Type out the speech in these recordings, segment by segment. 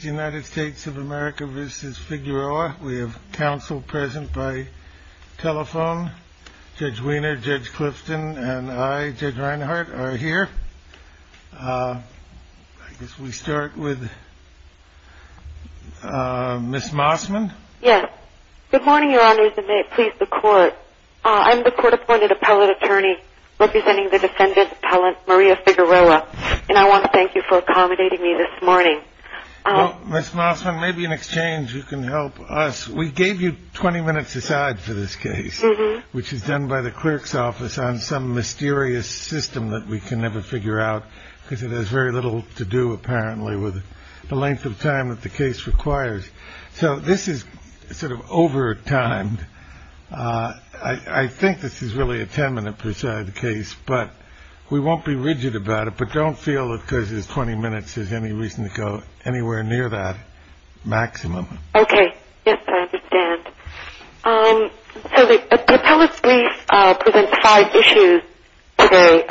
United States of America v. Figueroa. We have counsel present by telephone. Judge Wiener, Judge Clifton, and I, Judge Reinhart, are here. I guess we start with Ms. Mossman. Yes. Good morning, Your Honors, and may it please the Court. I'm the Court-Appointed Appellate Attorney representing the defendant, Appellant Maria Figueroa, and I want to thank you for Ms. Mossman, maybe in exchange you can help us. We gave you 20 minutes aside for this case, which is done by the clerk's office on some mysterious system that we can never figure out because it has very little to do, apparently, with the length of time that the case requires. So this is sort of overtimed. I think this is really a 10-minute preside case, but we won't be rigid about it, but don't feel that because there's 20 minutes there's any reason to go anywhere near that maximum. Okay. Yes, I understand. So the appellate brief presents five issues today.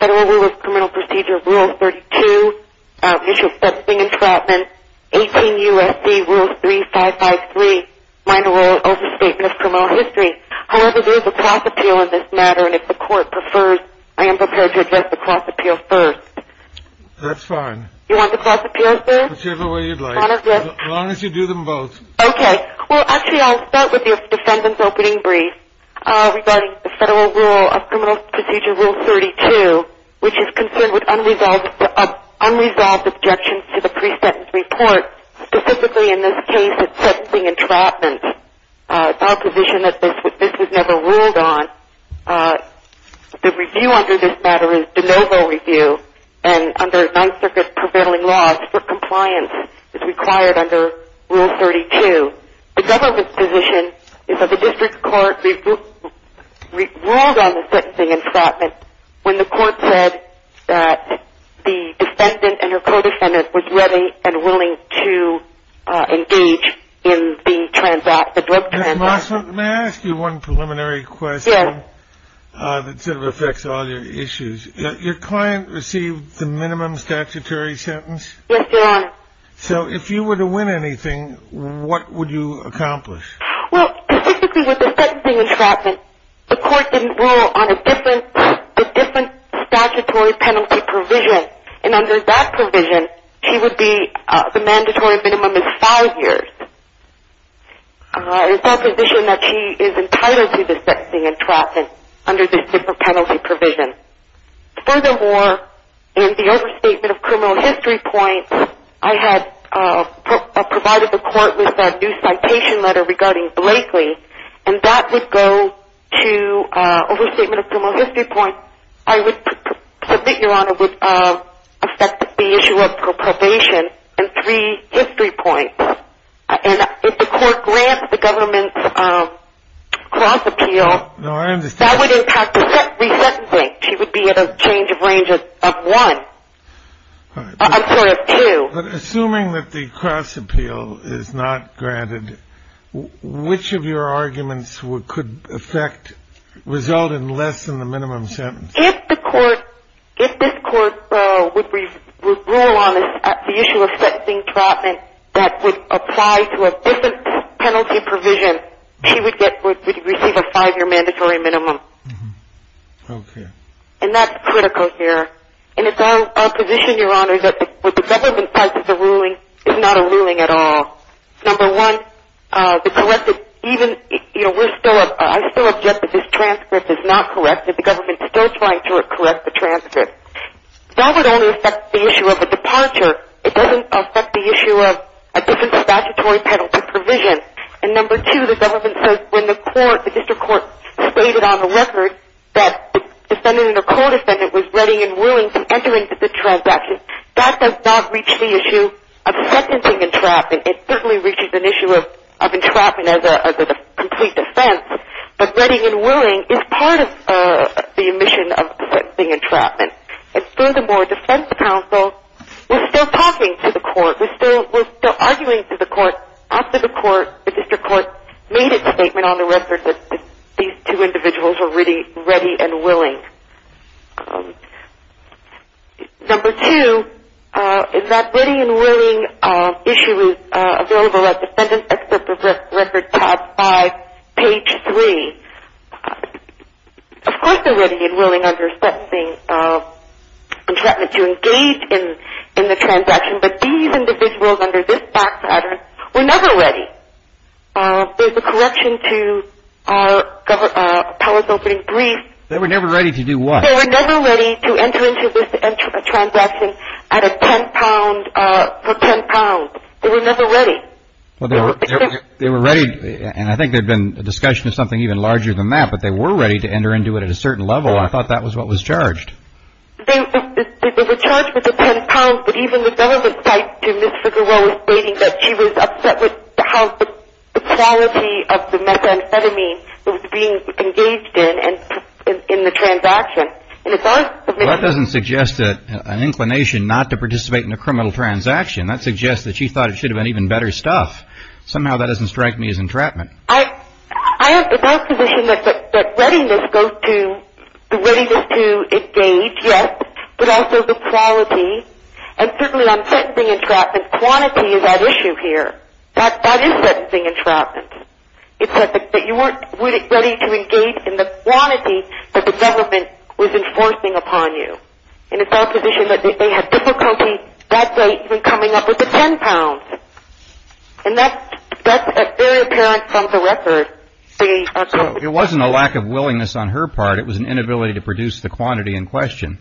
Federal Rules of Criminal Procedure, Rule 32, Issue Accepting Entrapment, 18 U.S.C. Rule 3553, Minor Role Overstatement of Criminal History. However, there is a cross appeal in this matter, and if the Court prefers, I am prepared to address the cross appeal first. That's fine. You want the cross appeal first? Whichever way you'd like. As long as you do them both. Okay. Well, actually, I'll start with your defendant's opening brief regarding the Federal Rule of Criminal Procedure, Rule 32, which is concerned with unresolved objections to the pre-sentence report, specifically in this case, accepting entrapment, a provision that this was never ruled on. The review under this matter is de novo review, and under Ninth Circuit prevailing laws for compliance, it's required under Rule 32. The government's position is that the district court ruled on the sentencing entrapment when the court said that the defendant and her client received the minimum statutory sentence. Yes, Your Honor. So if you were to win anything, what would you accomplish? Well, specifically with the sentencing entrapment, the court didn't rule on a different statutory penalty provision, and under that provision, the mandatory minimum is five years. It's that provision that she is entitled to the sentencing entrapment under this different penalty provision. Furthermore, in the overstatement of criminal history points, I had provided the court with a new citation letter regarding Blakely, and that would go to overstatement of criminal history points. I would submit, Your Honor, would affect the issue of probation and three history points, and if the court grants the government's cross-appeal, that would impact the re-sentencing. She would be at a change of range of one. I'm sorry, of two. But assuming that the cross-appeal is not granted, which of your would rule on the issue of sentencing entrapment that would apply to a different penalty provision, she would receive a five-year mandatory minimum. And that's critical here. And it's our position, Your Honor, that with the government's side of the ruling, it's not a ruling at all. Number one, I still object that this transcript is not correct. The government is still trying to correct the transcript. That would only affect the issue of a departure. It doesn't affect the issue of a different statutory penalty provision. And number two, the government says when the court, the district court stated on the record that the defendant or co-defendant was ready and willing to enter into the transaction, that does not reach the issue of sentencing entrapment. It certainly reaches an issue of the omission of sentencing entrapment. And furthermore, defense counsel was still talking to the court, was still arguing to the court after the court, the district court, made a statement on the record that these two individuals were ready and willing. Number two, is that ready and willing issue is available at Defendant Expert Record tab five, page three. Of course, they're ready and willing under sentencing entrapment to engage in the transaction, but these individuals under this back pattern were never ready. There's a correction to our palace opening brief. They were never ready to do what? They were never ready to enter into this transaction for 10 pounds. They were never ready. They were ready, and I think there had been a discussion of something even larger than that, but they were ready to enter into it at a certain level. I thought that was what was charged. They were charged with the 10 pounds, but even the government cited Ms. Figueroa stating that she was upset with how the quality of the methamphetamine was being engaged in the transaction. Well, that doesn't suggest an inclination not to participate in a criminal transaction. That suggests that she thought it should have been even better stuff. Somehow that doesn't strike me as entrapment. I have the self-position that readiness goes to the readiness to engage, yes, but also the quality, and certainly on sentencing entrapment, quantity is at issue here. That is sentencing entrapment. It's that you weren't ready to engage in the quantity that the government was enforcing upon you, and it's our position that they had difficulty that day even coming up with the 10 pounds, and that's very apparent from the record. It wasn't a lack of willingness on her part. It was an inability to produce the quantity in question.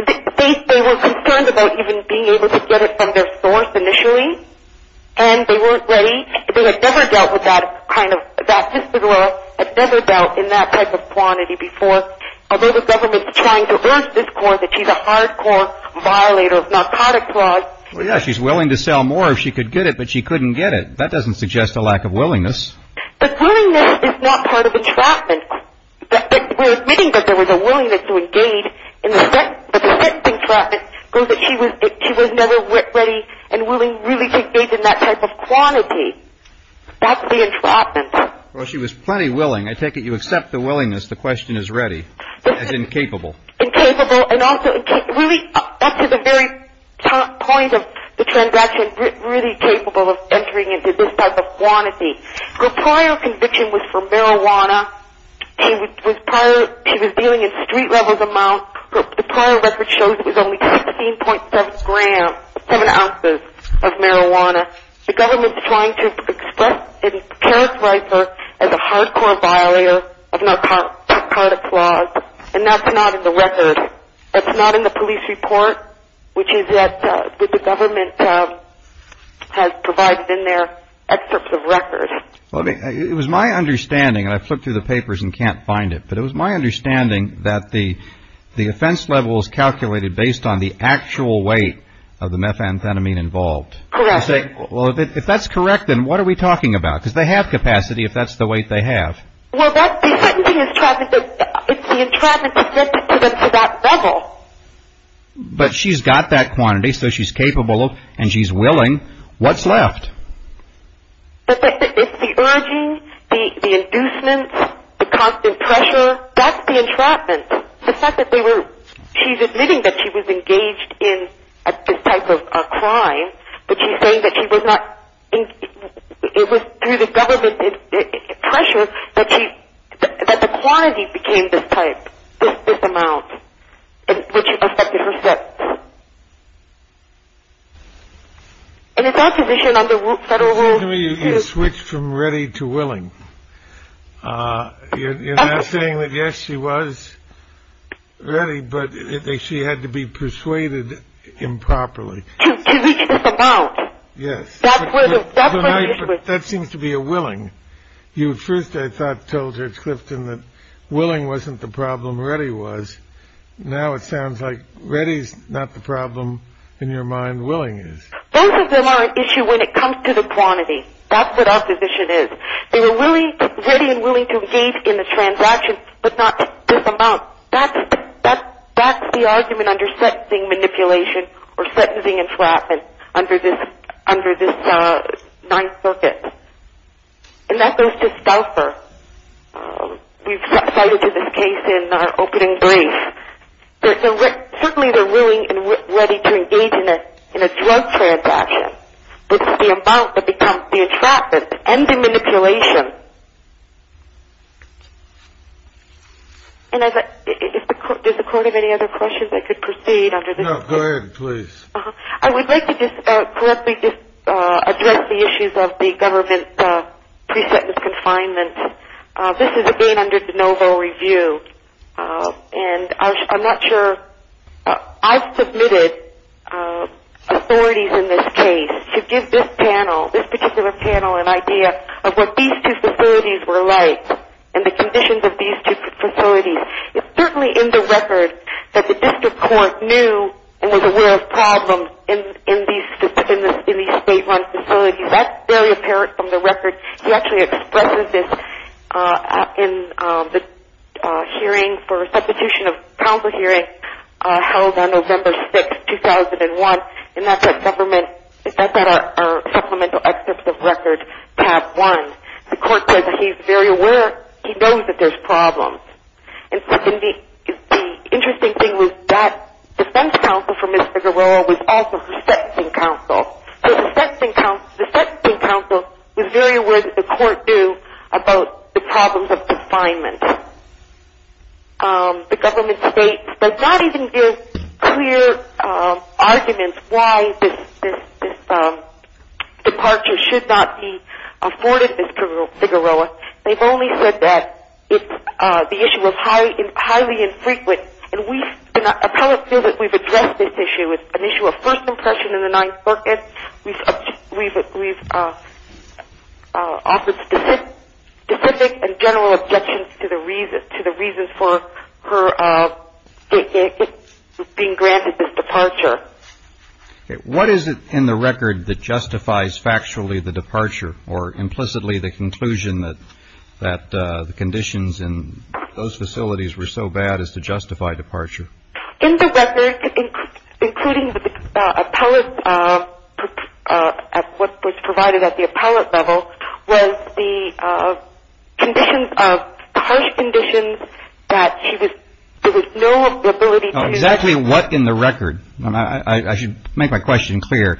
They were concerned about even being able to get it from their source initially, and they weren't ready. They had never dealt with that kind of, that Ms. Figueroa had never dealt in that type of quantity before, although the government's trying to urge this court that she's a hardcore violator of narcotic fraud. Well, yeah, she's willing to sell more if she could get it, but she couldn't get it. That doesn't suggest a lack of willingness. But willingness is not part of entrapment. We're admitting that there was a willingness to engage in the sentencing entrapment, but she was never ready and willing to really engage in that type of quantity. That's the entrapment. Well, she was plenty willing. I take it you accept the willingness, the question is ready, as incapable. Incapable, and also really up to the very point of the transaction, really capable of entering into this type of quantity. Her prior conviction was for marijuana. She was dealing in street-level amounts. The prior record shows it was only 16.7 grams, 7 ounces of marijuana. The government's trying to express in character as a hardcore violator of narcotic fraud, and that's not in the record. That's not in the police report, which is what the government has provided in their excerpts of records. It was my understanding, and I flipped through the papers and can't find it, but it was my understanding that the offense level is calculated based on the actual weight of the methamphetamine involved. Well, if that's correct, then what are we talking about? Because they have capacity if that's the weight they have. Well, the certainty is trapped, it's the entrapment to get to that level. But she's got that quantity, so she's capable, and she's willing. What's left? It's the urging, the inducements, the constant pressure. That's the entrapment. The fact that she's admitting that she was engaged in this type of crime, but she's saying that she was not. It was through the government pressure that the quantity became this type, this amount, which affected her steps. And it's our position on the federal rule. Excuse me, you switched from ready to willing. You're not saying that, yes, she was ready, but she had to be persuaded improperly. To reach this amount. That seems to be a willing. You first, I thought, told Judge Clifton that willing wasn't the problem, ready was. Now it sounds like ready is not the problem, in your mind, willing is. Both of them are an issue when it comes to the quantity. That's what our position is. They were ready and willing to engage in the transaction, but not this amount. That's the argument under sentencing manipulation, or sentencing entrapment, under this Ninth Circuit. And that goes to Stouffer. We've cited to this case in our opening brief. Certainly they're willing and ready to engage in a drug transaction, but it's the amount that becomes the entrapment and the manipulation. And if the court has any other questions, I could proceed under this. No, go ahead, please. I would like to just correctly just address the issues of the government pre-sentence confinement. This is again under de novo review. And I'm not sure, I've submitted authorities in this case to give this panel, what these facilities were like and the conditions of these two facilities. It's certainly in the record that the district court knew and was aware of problems in these state-run facilities. That's very apparent from the record. He actually expressed this in the hearing for substitution of counsel hearing held on November 6, 2001. And that's at government, that's at our supplemental excerpts of record, tab one. The court says that he's very aware, he knows that there's problems. And the interesting thing was that defense counsel for Mr. Garroa was also his sentencing counsel. So the sentencing counsel was very aware that the court knew about the problems of confinement. The government states, does not even give clear arguments why this departure should not be afforded, Mr. Garroa. They've only said that the issue was highly infrequent. And we've, and appellate feel that we've addressed this issue. It's an issue of first impression in the Ninth Circuit. We've offered specific and general objections to the reasons for her being granted this departure. What is it in the record that justifies factually the departure? Or implicitly the conclusion that the conditions in those facilities were so bad as to justify departure? In the record, including the appellate, what was provided at the appellate level, was the conditions of, harsh conditions that she was, there was no ability to. Exactly what in the record? I should make my question clear.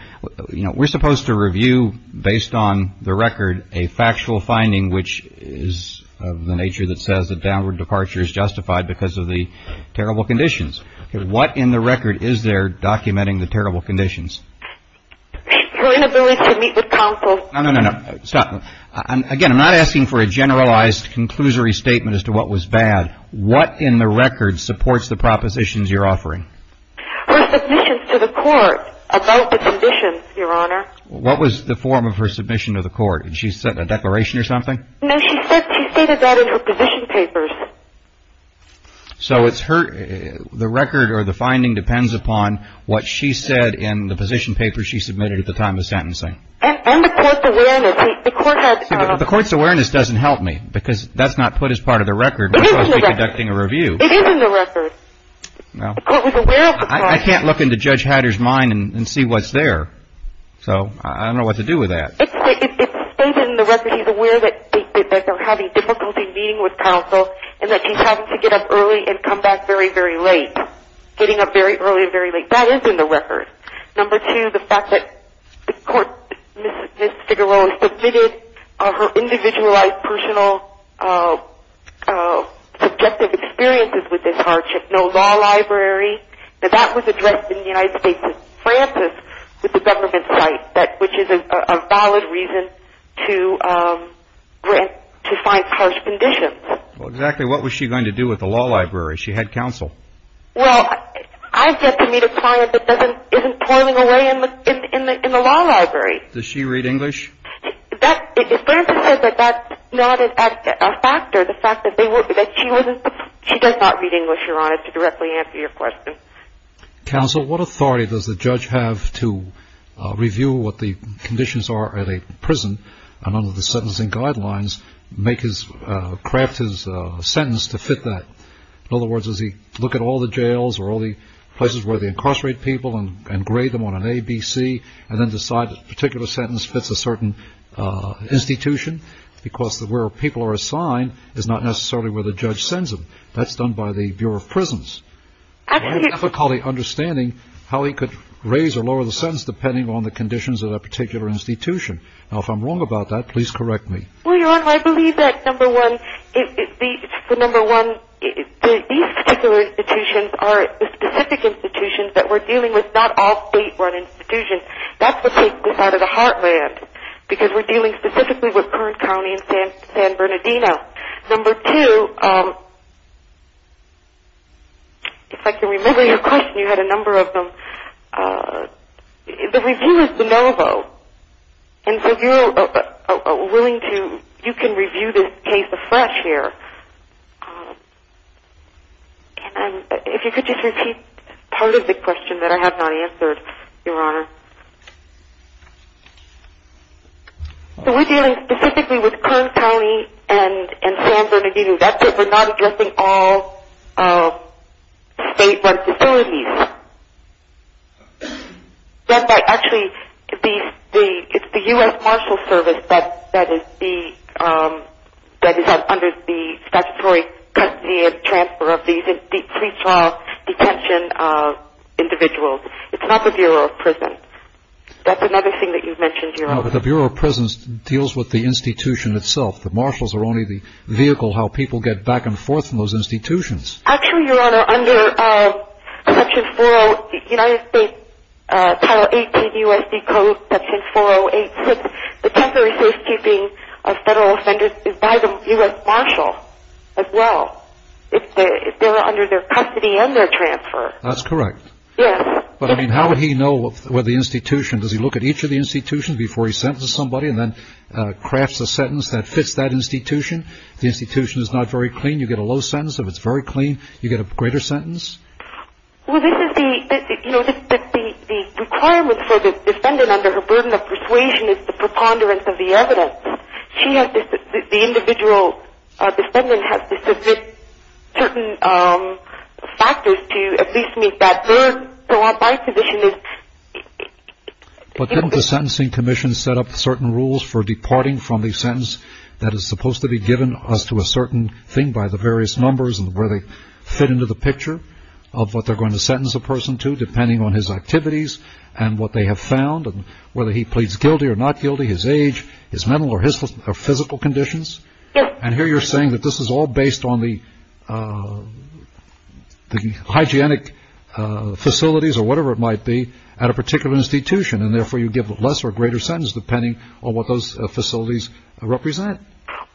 We're supposed to review, based on the record, a factual finding which is of the nature that downward departure is justified because of the terrible conditions. What in the record is there documenting the terrible conditions? Her inability to meet with counsel. No, no, no, stop. Again, I'm not asking for a generalized conclusory statement as to what was bad. What in the record supports the propositions you're offering? Her submissions to the court about the conditions, Your Honor. What was the form of her submission to the court? She sent a declaration or something? No, she stated that in her position papers. So it's her, the record or the finding depends upon what she said in the position papers she submitted at the time of sentencing. And the court's awareness. The court has... The court's awareness doesn't help me because that's not put as part of the record. It is in the record. We're supposed to be conducting a review. It is in the record. No. The court was aware of the fact. I can't look into Judge Hatter's mind and see what's there. So I don't know what to do with that. It's stated in the record. She's aware that they're having difficulty meeting with counsel and that she's having to get up early and come back very, very late. Getting up very early and very late. That is in the record. Number two, the fact that the court, Ms. Figueroa, submitted her individualized personal subjective experiences with this hardship. No law library. That that was addressed in the United States as Francis with the government site. Which is a valid reason to find harsh conditions. Well, exactly what was she going to do with the law library? She had counsel. Well, I've yet to meet a client that isn't toiling away in the law library. Does she read English? That, if Francis said that, that's not a factor. The fact that she doesn't... She does not read English, Your Honor, to directly answer your question. Counsel, what authority does the judge have to review what the conditions are at a prison and under the sentencing guidelines make his, craft his sentence to fit that? In other words, does he look at all the jails or all the places where they incarcerate people and grade them on an ABC and then decide a particular sentence fits a certain institution? Because where people are assigned is not necessarily where the judge sends them. That's done by the Bureau of Prisons. I have difficulty understanding how he could raise or lower the sentence depending on the conditions of that particular institution. Now, if I'm wrong about that, please correct me. Well, Your Honor, I believe that, number one, these particular institutions are specific institutions that we're dealing with, not all state-run institutions. That's what takes this out of the heartland. Because we're dealing specifically with Kern County and San Bernardino. Number two, if I can remember your question, you had a number of them. The review is de novo. And so if you're willing to, you can review this case afresh here. And if you could just repeat part of the question that I have not answered, Your Honor. So we're dealing specifically with Kern County and San Bernardino. That's it. We're not addressing all state-run facilities. That might actually be, it's the U.S. Marshal Service that is under the statutory custody and transfer of these pretrial detention individuals. It's not the Bureau of Prisons. That's another thing that you've mentioned, Your Honor. No, but the Bureau of Prisons deals with the institution itself. The Marshals are only the vehicle how people get back and forth from those institutions. Actually, Your Honor, under Section 408, United States Title 18 U.S.D. Code, Section 408, the temporary safekeeping of federal offenders is by the U.S. Marshal as well. If they're under their custody and their transfer. That's correct. Yes. But, I mean, how would he know where the institution, does he look at each of the institutions before he sentences somebody and then crafts a sentence that fits that institution? If the institution is not very clean, you get a low sentence. If it's very clean, you get a greater sentence? Well, this is the, you know, the requirement for the defendant under her burden of persuasion is the preponderance of the evidence. She has, the individual defendant has to submit certain factors to at least meet that. So our by position is... But didn't the Sentencing Commission set up certain rules for departing from the sentence that is supposed to be given us to a certain thing by the various numbers and where they fit into the picture of what they're going to sentence a person to depending on his activities and what they have found and whether he pleads guilty or not guilty, his age, his mental or physical conditions? Yes. And here you're saying that this is all based on the hygienic facilities or whatever it might be at a particular institution and therefore you give less or greater sentence depending on what those facilities represent?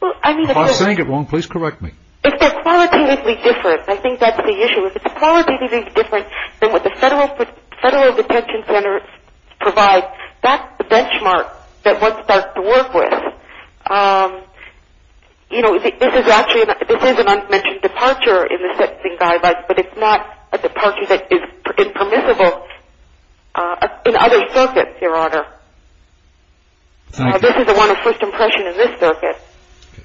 Well, I mean... If I'm saying it wrong, please correct me. If they're qualitatively different, I think that's the issue. If it's qualitatively different than what the federal detention center provides, that's the benchmark that one starts to work with. Um, you know, this is actually... This is an unmentioned departure in the sentencing guidelines, but it's not a departure that is impermissible in other circuits, Your Honor. This is the one of first impression in this circuit.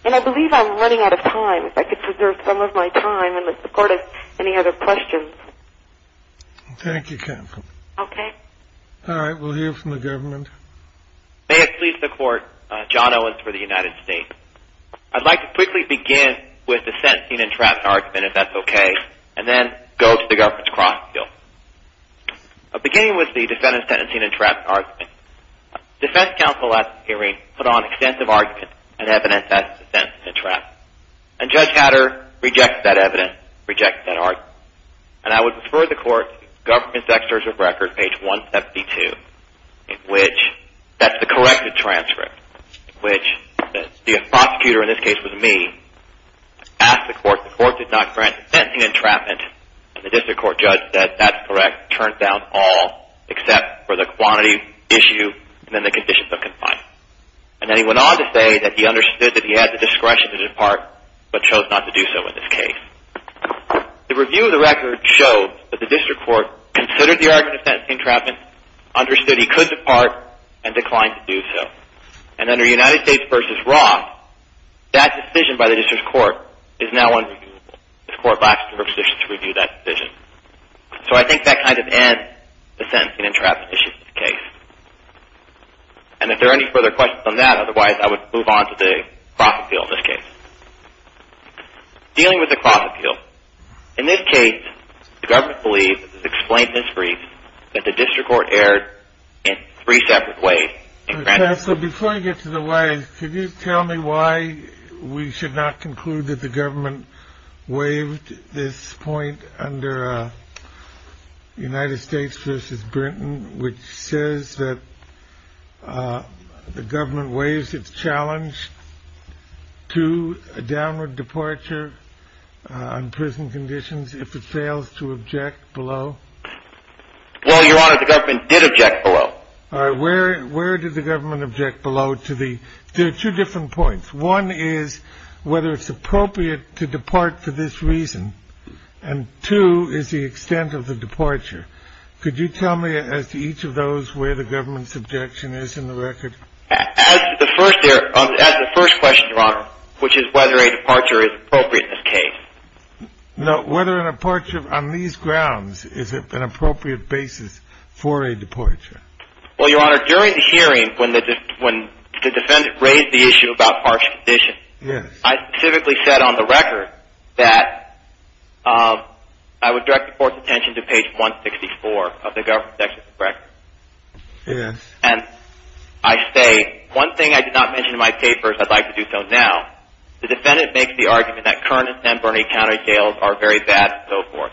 And I believe I'm running out of time. If I could preserve some of my time in the support of any other questions. Thank you, Catherine. Okay. All right. We'll hear from the government. May it please the court. John Owens for the United States. I'd like to quickly begin with the sentencing and trap argument, if that's okay. And then go to the government's cross field. Beginning with the defendant's sentencing and trap argument, defense counsel at the hearing put on extensive argument and evidence that the sentence is a trap. And Judge Hatter rejects that evidence, rejects that argument. And I would refer the court to government's extradition record, page 172, in which that's the corrected transcript, which the prosecutor in this case was me, asked the court, the court did not grant sentencing and entrapment. And the district court judge said that's correct, turned down all except for the quantity issue and then the conditions of confinement. And then he went on to say that he understood that he had the discretion to depart, but chose not to do so in this case. The review of the record showed that the district court considered the argument of sentencing and understood he could depart and declined to do so. And under United States v. Roth, that decision by the district court is now unreviewable. This court lacks the jurisdiction to review that decision. So I think that kind of ends the sentencing and entrapment issue in this case. And if there are any further questions on that, otherwise I would move on to the cross appeal in this case. Dealing with the cross appeal. In this case, the government believes, as explained in this brief, that the district court erred in three separate ways. So before I get to the ways, can you tell me why we should not conclude that the government waived this point under United States v. Britain, which says that the government waives its challenge to a downward departure on prison conditions if it fails to object below? Well, Your Honor, the government did object below. All right, where did the government object below? There are two different points. One is whether it's appropriate to depart for this reason. And two is the extent of the departure. Could you tell me as to each of those where the government's objection is in the record? As the first question, Your Honor, which is whether a departure is appropriate in this case. No, whether a departure on these grounds is an appropriate basis for a departure. Well, Your Honor, during the hearing, when the defendant raised the issue about harsh conditions, I specifically said on the record that I would direct the court's attention to page 164 of the government section of the record. And I say, one thing I did not mention in my papers, I'd like to do so now. The defendant makes the argument that current San Bernardino County jails are very bad, and so forth.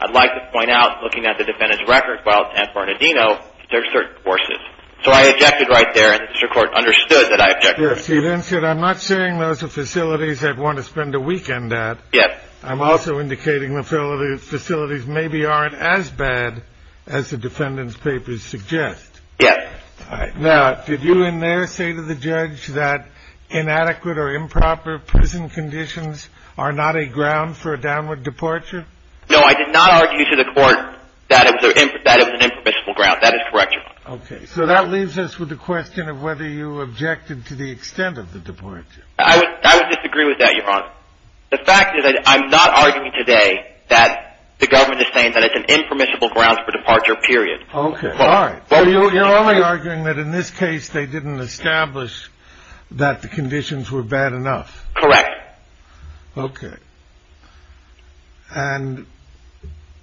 I'd like to point out, looking at the defendant's record while at San Bernardino, that there are certain forces. So I objected right there, and the district court understood that I objected. Yes, he then said, I'm not saying those are facilities I'd want to spend a weekend at. Yes. I'm also indicating the facilities maybe aren't as bad as the defendant's papers suggest. Yes. Now, did you in there say to the judge that inadequate or improper prison conditions are not a ground for a downward departure? No, I did not argue to the court that it was an impermissible ground. That is correct, Your Honor. Okay. So that leaves us with the question of whether you objected to the extent of the departure. I would disagree with that, Your Honor. The fact is that I'm not arguing today that the government is saying that it's an impermissible grounds for departure, period. Okay. All right. You're only arguing that in this case, they didn't establish that the conditions were bad enough. Correct. Okay. And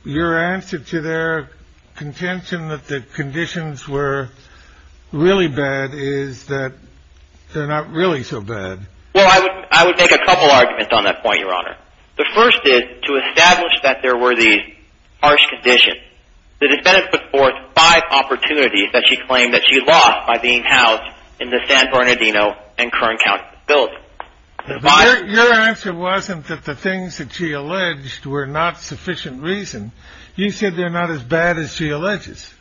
your answer to their contention that the conditions were really bad is that they're not really so bad. Well, I would make a couple arguments on that point, Your Honor. The first is to establish that there were these harsh conditions. The defendant put forth five opportunities that she claimed that she lost by being housed in the San Bernardino and Kern County facilities. Your answer wasn't that the things that she alleged were not sufficient reason. You said they're not as bad as she alleges.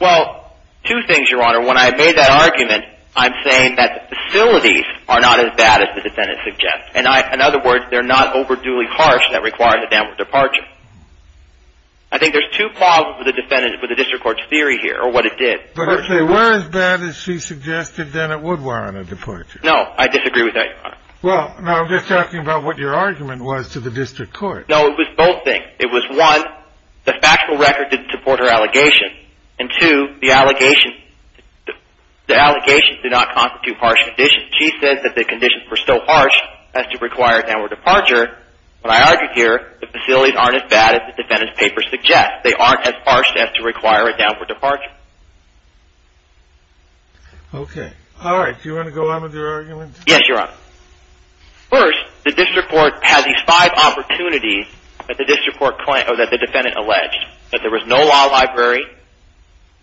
Well, two things, Your Honor. When I made that argument, I'm saying that the facilities are not as bad as the defendant suggests. And in other words, they're not overduly harsh that require the downward departure. I think there's two problems with the defendant, with the district court's theory here, or what it did. But if they were as bad as she suggested, then it would warrant a departure. No, I disagree with that, Your Honor. Well, now I'm just asking about what your argument was to the district court. No, it was both things. It was, one, the factual record didn't support her allegation. And two, the allegations did not constitute harsh conditions. She said that the conditions were so harsh as to require a downward departure. What I argue here, the facilities aren't as bad as the defendant's paper suggests. They aren't as harsh as to require a downward departure. Okay. All right. Do you want to go on with your argument? Yes, Your Honor. First, the district court has these five opportunities that the defendant alleged. That there was no law library,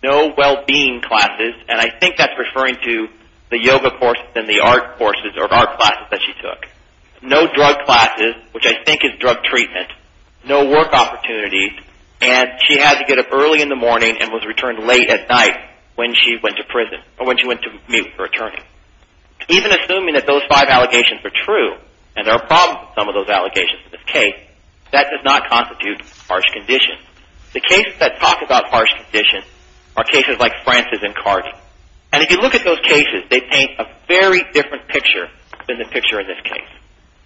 no well-being classes, and I think that's referring to the yoga courses and the art courses or art classes that she took. No drug classes, which I think is drug treatment, no work opportunities, and she had to get up early in the morning and was returned late at night when she went to prison or when she went to meet with her attorney. Even assuming that those five allegations are true, and there are problems with some of those allegations in this case, that does not constitute harsh conditions. The cases that talk about harsh conditions are cases like Francis and Carter. And if you look at those cases, they paint a very different picture than the picture in this case.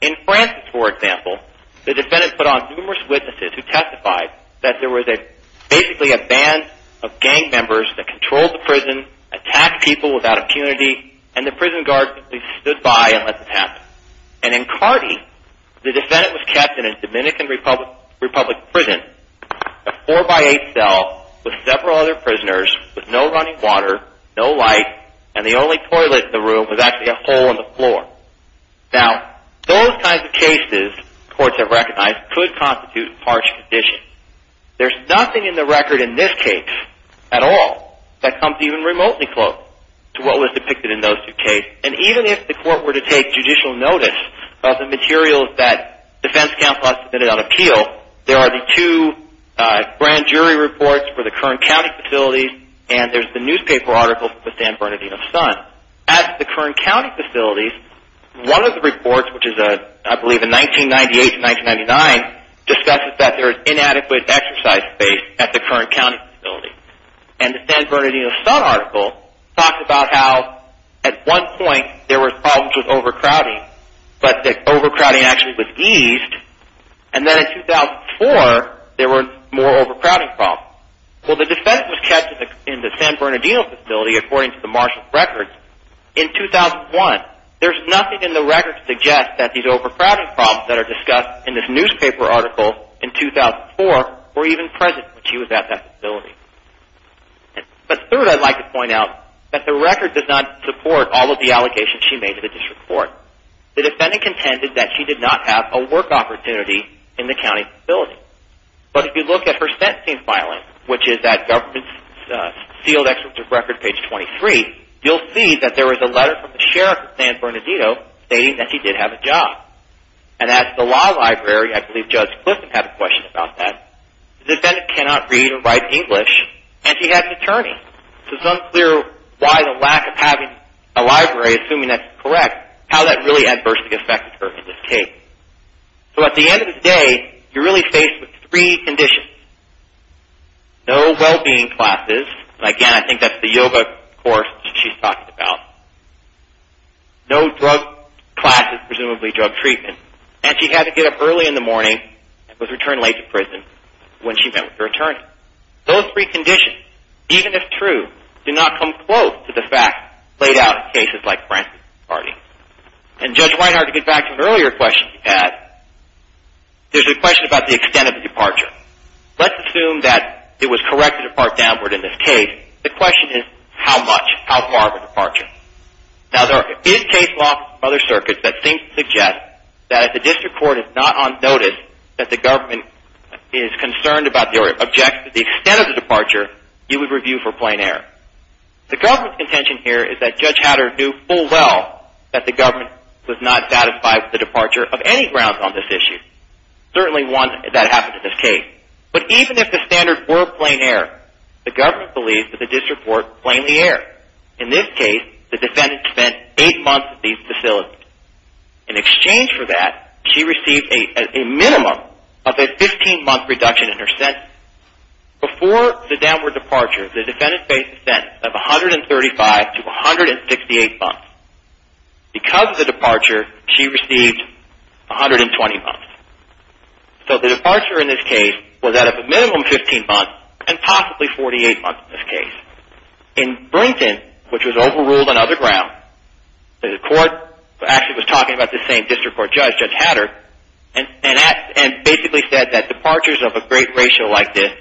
In Francis, for example, the defendant put on numerous witnesses who testified that there was basically a band of gang members that controlled the prison, attacked people without impunity, and the prison guard simply stood by and let this happen. And in Carter, the defendant was kept in a Dominican Republic prison, a four-by-eight cell with several other prisoners with no running water, no light, and the only toilet in the room was actually a hole in the floor. Now, those kinds of cases, courts have recognized, could constitute harsh conditions. There's nothing in the record in this case at all that comes even remotely close to what was depicted in those two cases. And even if the court were to take judicial notice of the materials that defense counsel has submitted on appeal, there are the two grand jury reports for the Kern County facilities, and there's the newspaper article for the San Bernardino Sun. At the Kern County facilities, one of the reports, which is, I believe, in 1998 to 1999, discusses that there is inadequate exercise space at the Kern County facilities. And the San Bernardino Sun article talks about how, at one point, there were problems with overcrowding, but that overcrowding actually was eased, and then in 2004, there were more overcrowding problems. Well, the defense was kept in the San Bernardino facility, according to the marshal's records. In 2001, there's nothing in the record to suggest that these overcrowding problems that are discussed in this newspaper article in 2004 were even present when she was at that facility. But third, I'd like to point out that the record does not support all of the allegations she made to the district court. The defendant contended that she did not have a work opportunity in the county facility. But if you look at her sentencing filing, which is at government's sealed executive record, page 23, you'll see that there was a letter from the sheriff of San Bernardino stating that she did have a job. And at the law library, I believe Judge Clifton had a question about that. The defendant cannot read or write English, and she had an attorney. So it's unclear why the lack of having a library, assuming that's correct, how that really adversely affected her in this case. So at the end of the day, you're really faced with three conditions. No well-being classes. Again, I think that's the yoga course that she's talking about. No drug classes, presumably drug treatment. And she had to get up early in the morning and was returned late to prison when she met with her attorney. Those three conditions, even if true, do not come close to the facts laid out in cases like Francis Hardy. And Judge Whitehart, to get back to an earlier question you had, there's a question about the extent of the departure. Let's assume that it was correct to depart downward in this case. The question is, how much? How far of a departure? Now, there is case law from other circuits that seems to suggest that if the district court is not on notice that the government is concerned about the extent of the departure, you would review for plain error. The government's contention here is that Judge Hatter knew full well that the government was not satisfied with the departure of any grounds on this issue. Certainly one that happens in this case. But even if the standards were plain error, the government believes that the district court blamed the error. In this case, the defendant spent eight months at these facilities. In exchange for that, she received a minimum of a 15-month reduction in her sentence. Before the downward departure, the defendant faced a sentence of 135 to 168 months. Because of the departure, she received 120 months. So the departure in this case was that of a minimum 15 months and possibly 48 months in this case. In Brington, which was overruled on other grounds, the court actually was talking about the same district court judge, Judge Hatter, and basically said that departures of a great ratio like this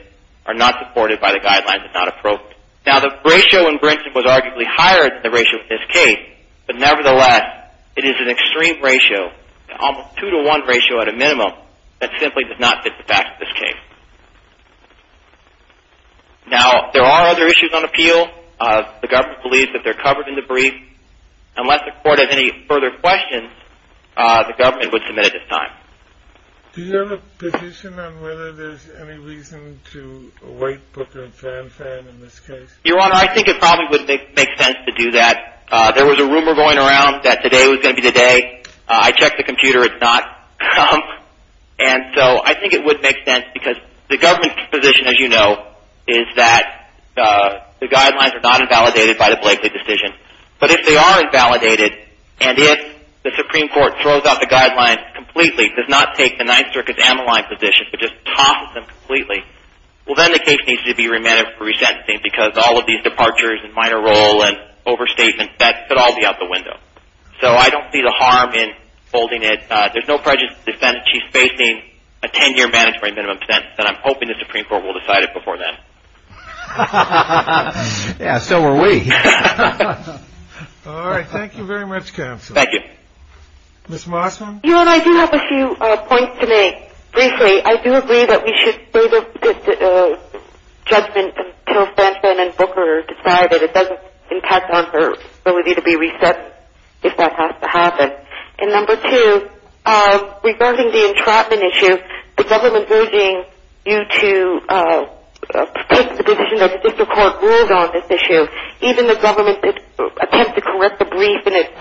are not supported by the guidelines and not approved. Now, the ratio in Brington was arguably higher than the ratio in this case, but nevertheless, it is an extreme ratio, almost 2 to 1 ratio at a minimum, that simply does not fit the facts of this case. Now, there are other issues on appeal. The government believes that they're covered in the brief. Unless the court has any further questions, the government would submit at this time. Do you have a position on whether there's any reason to await Booker and Fanfan in this case? Your Honor, I think it probably would make sense to do that. There was a rumor going around that today was going to be the day. I checked the computer. It's not. And so I think it would make sense because the government's position, as you know, is that the guidelines are not invalidated by the Blakely decision. But if they are invalidated, and if the Supreme Court throws out the guidelines completely, does not take the Ninth Circuit's ammaline position, but just tosses them completely, well, then the case needs to be remanded for resentencing because all of these departures and minor role and overstatements, that could all be out the window. So I don't see the harm in holding it. There's no prejudice to the defendant. She's facing a 10-year mandatory minimum sentence, and I'm hoping the Supreme Court will decide it before then. Yeah, so are we. All right. Thank you very much, counsel. Thank you. Ms. Mossman? Your Honor, I do have a few points to make. Briefly, I do agree that we should wait for the judgment until Stanton and Booker decide that it doesn't impact on her ability to be reset if that has to happen. And number two, regarding the entrapment issue, the government urging you to take the position that the district court ruled on this issue, even the government attempts to correct the brief in its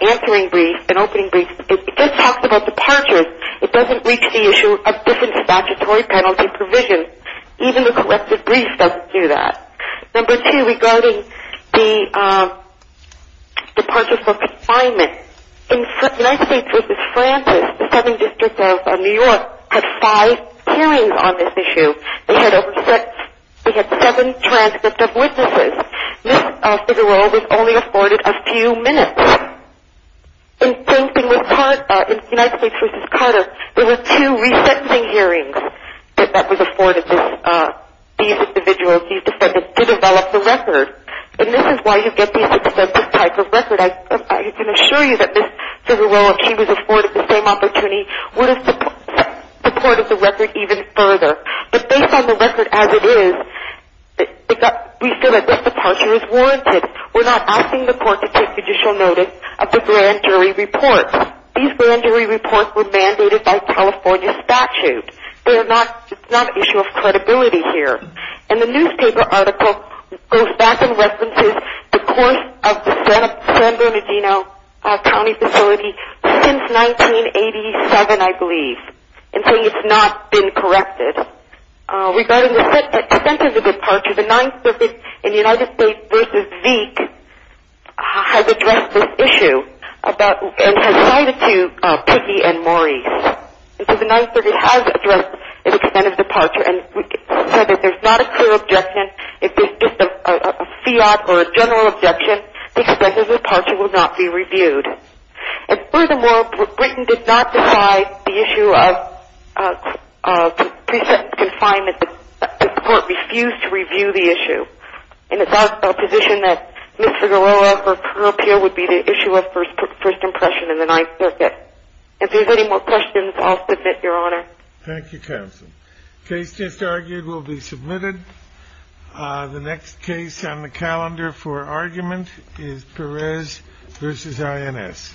answering brief, an opening brief, it just talks about departures. It doesn't reach the issue of different statutory penalty provisions. Even the corrected brief doesn't do that. Number two, regarding the departures for confinement, in United States v. Carter, they had seven transcripts of witnesses. Ms. Figueroa was only afforded a few minutes. In United States v. Carter, there were two re-sentencing hearings that were afforded these individuals, these defendants, to develop the record. And this is why you get these extensive types of records. I can assure you that Ms. Figueroa, if she was afforded the same opportunity, would have supported the record even further. But based on the record as it is, we feel that this departure is warranted. We're not asking the court to take judicial notice of the grand jury report. These grand jury reports were mandated by California statute. It's not an issue of credibility here. And the newspaper article goes back and references the course of the San Bernardino County facility since 1987, I believe, until it's not been corrected. Regarding the extent of the departure, the 9th Circuit in United States v. Zeke has addressed this issue and has cited to Pickey and Maurice. And so the 9th Circuit has addressed the extent of departure and said that there's not a clear objection. If there's just a fiat or a general objection, the extent of departure will not be reviewed. And furthermore, Britain did not decide the issue of pre-sentence confinement. The court refused to review the issue. And it's our position that Ms. Figueroa's career appeal would be the issue of first impression in the 9th Circuit. If there's any more questions, I'll submit, Your Honor. Thank you, Counsel. Case just argued will be submitted. The next case on the calendar for argument is Perez v. INS. Thank you.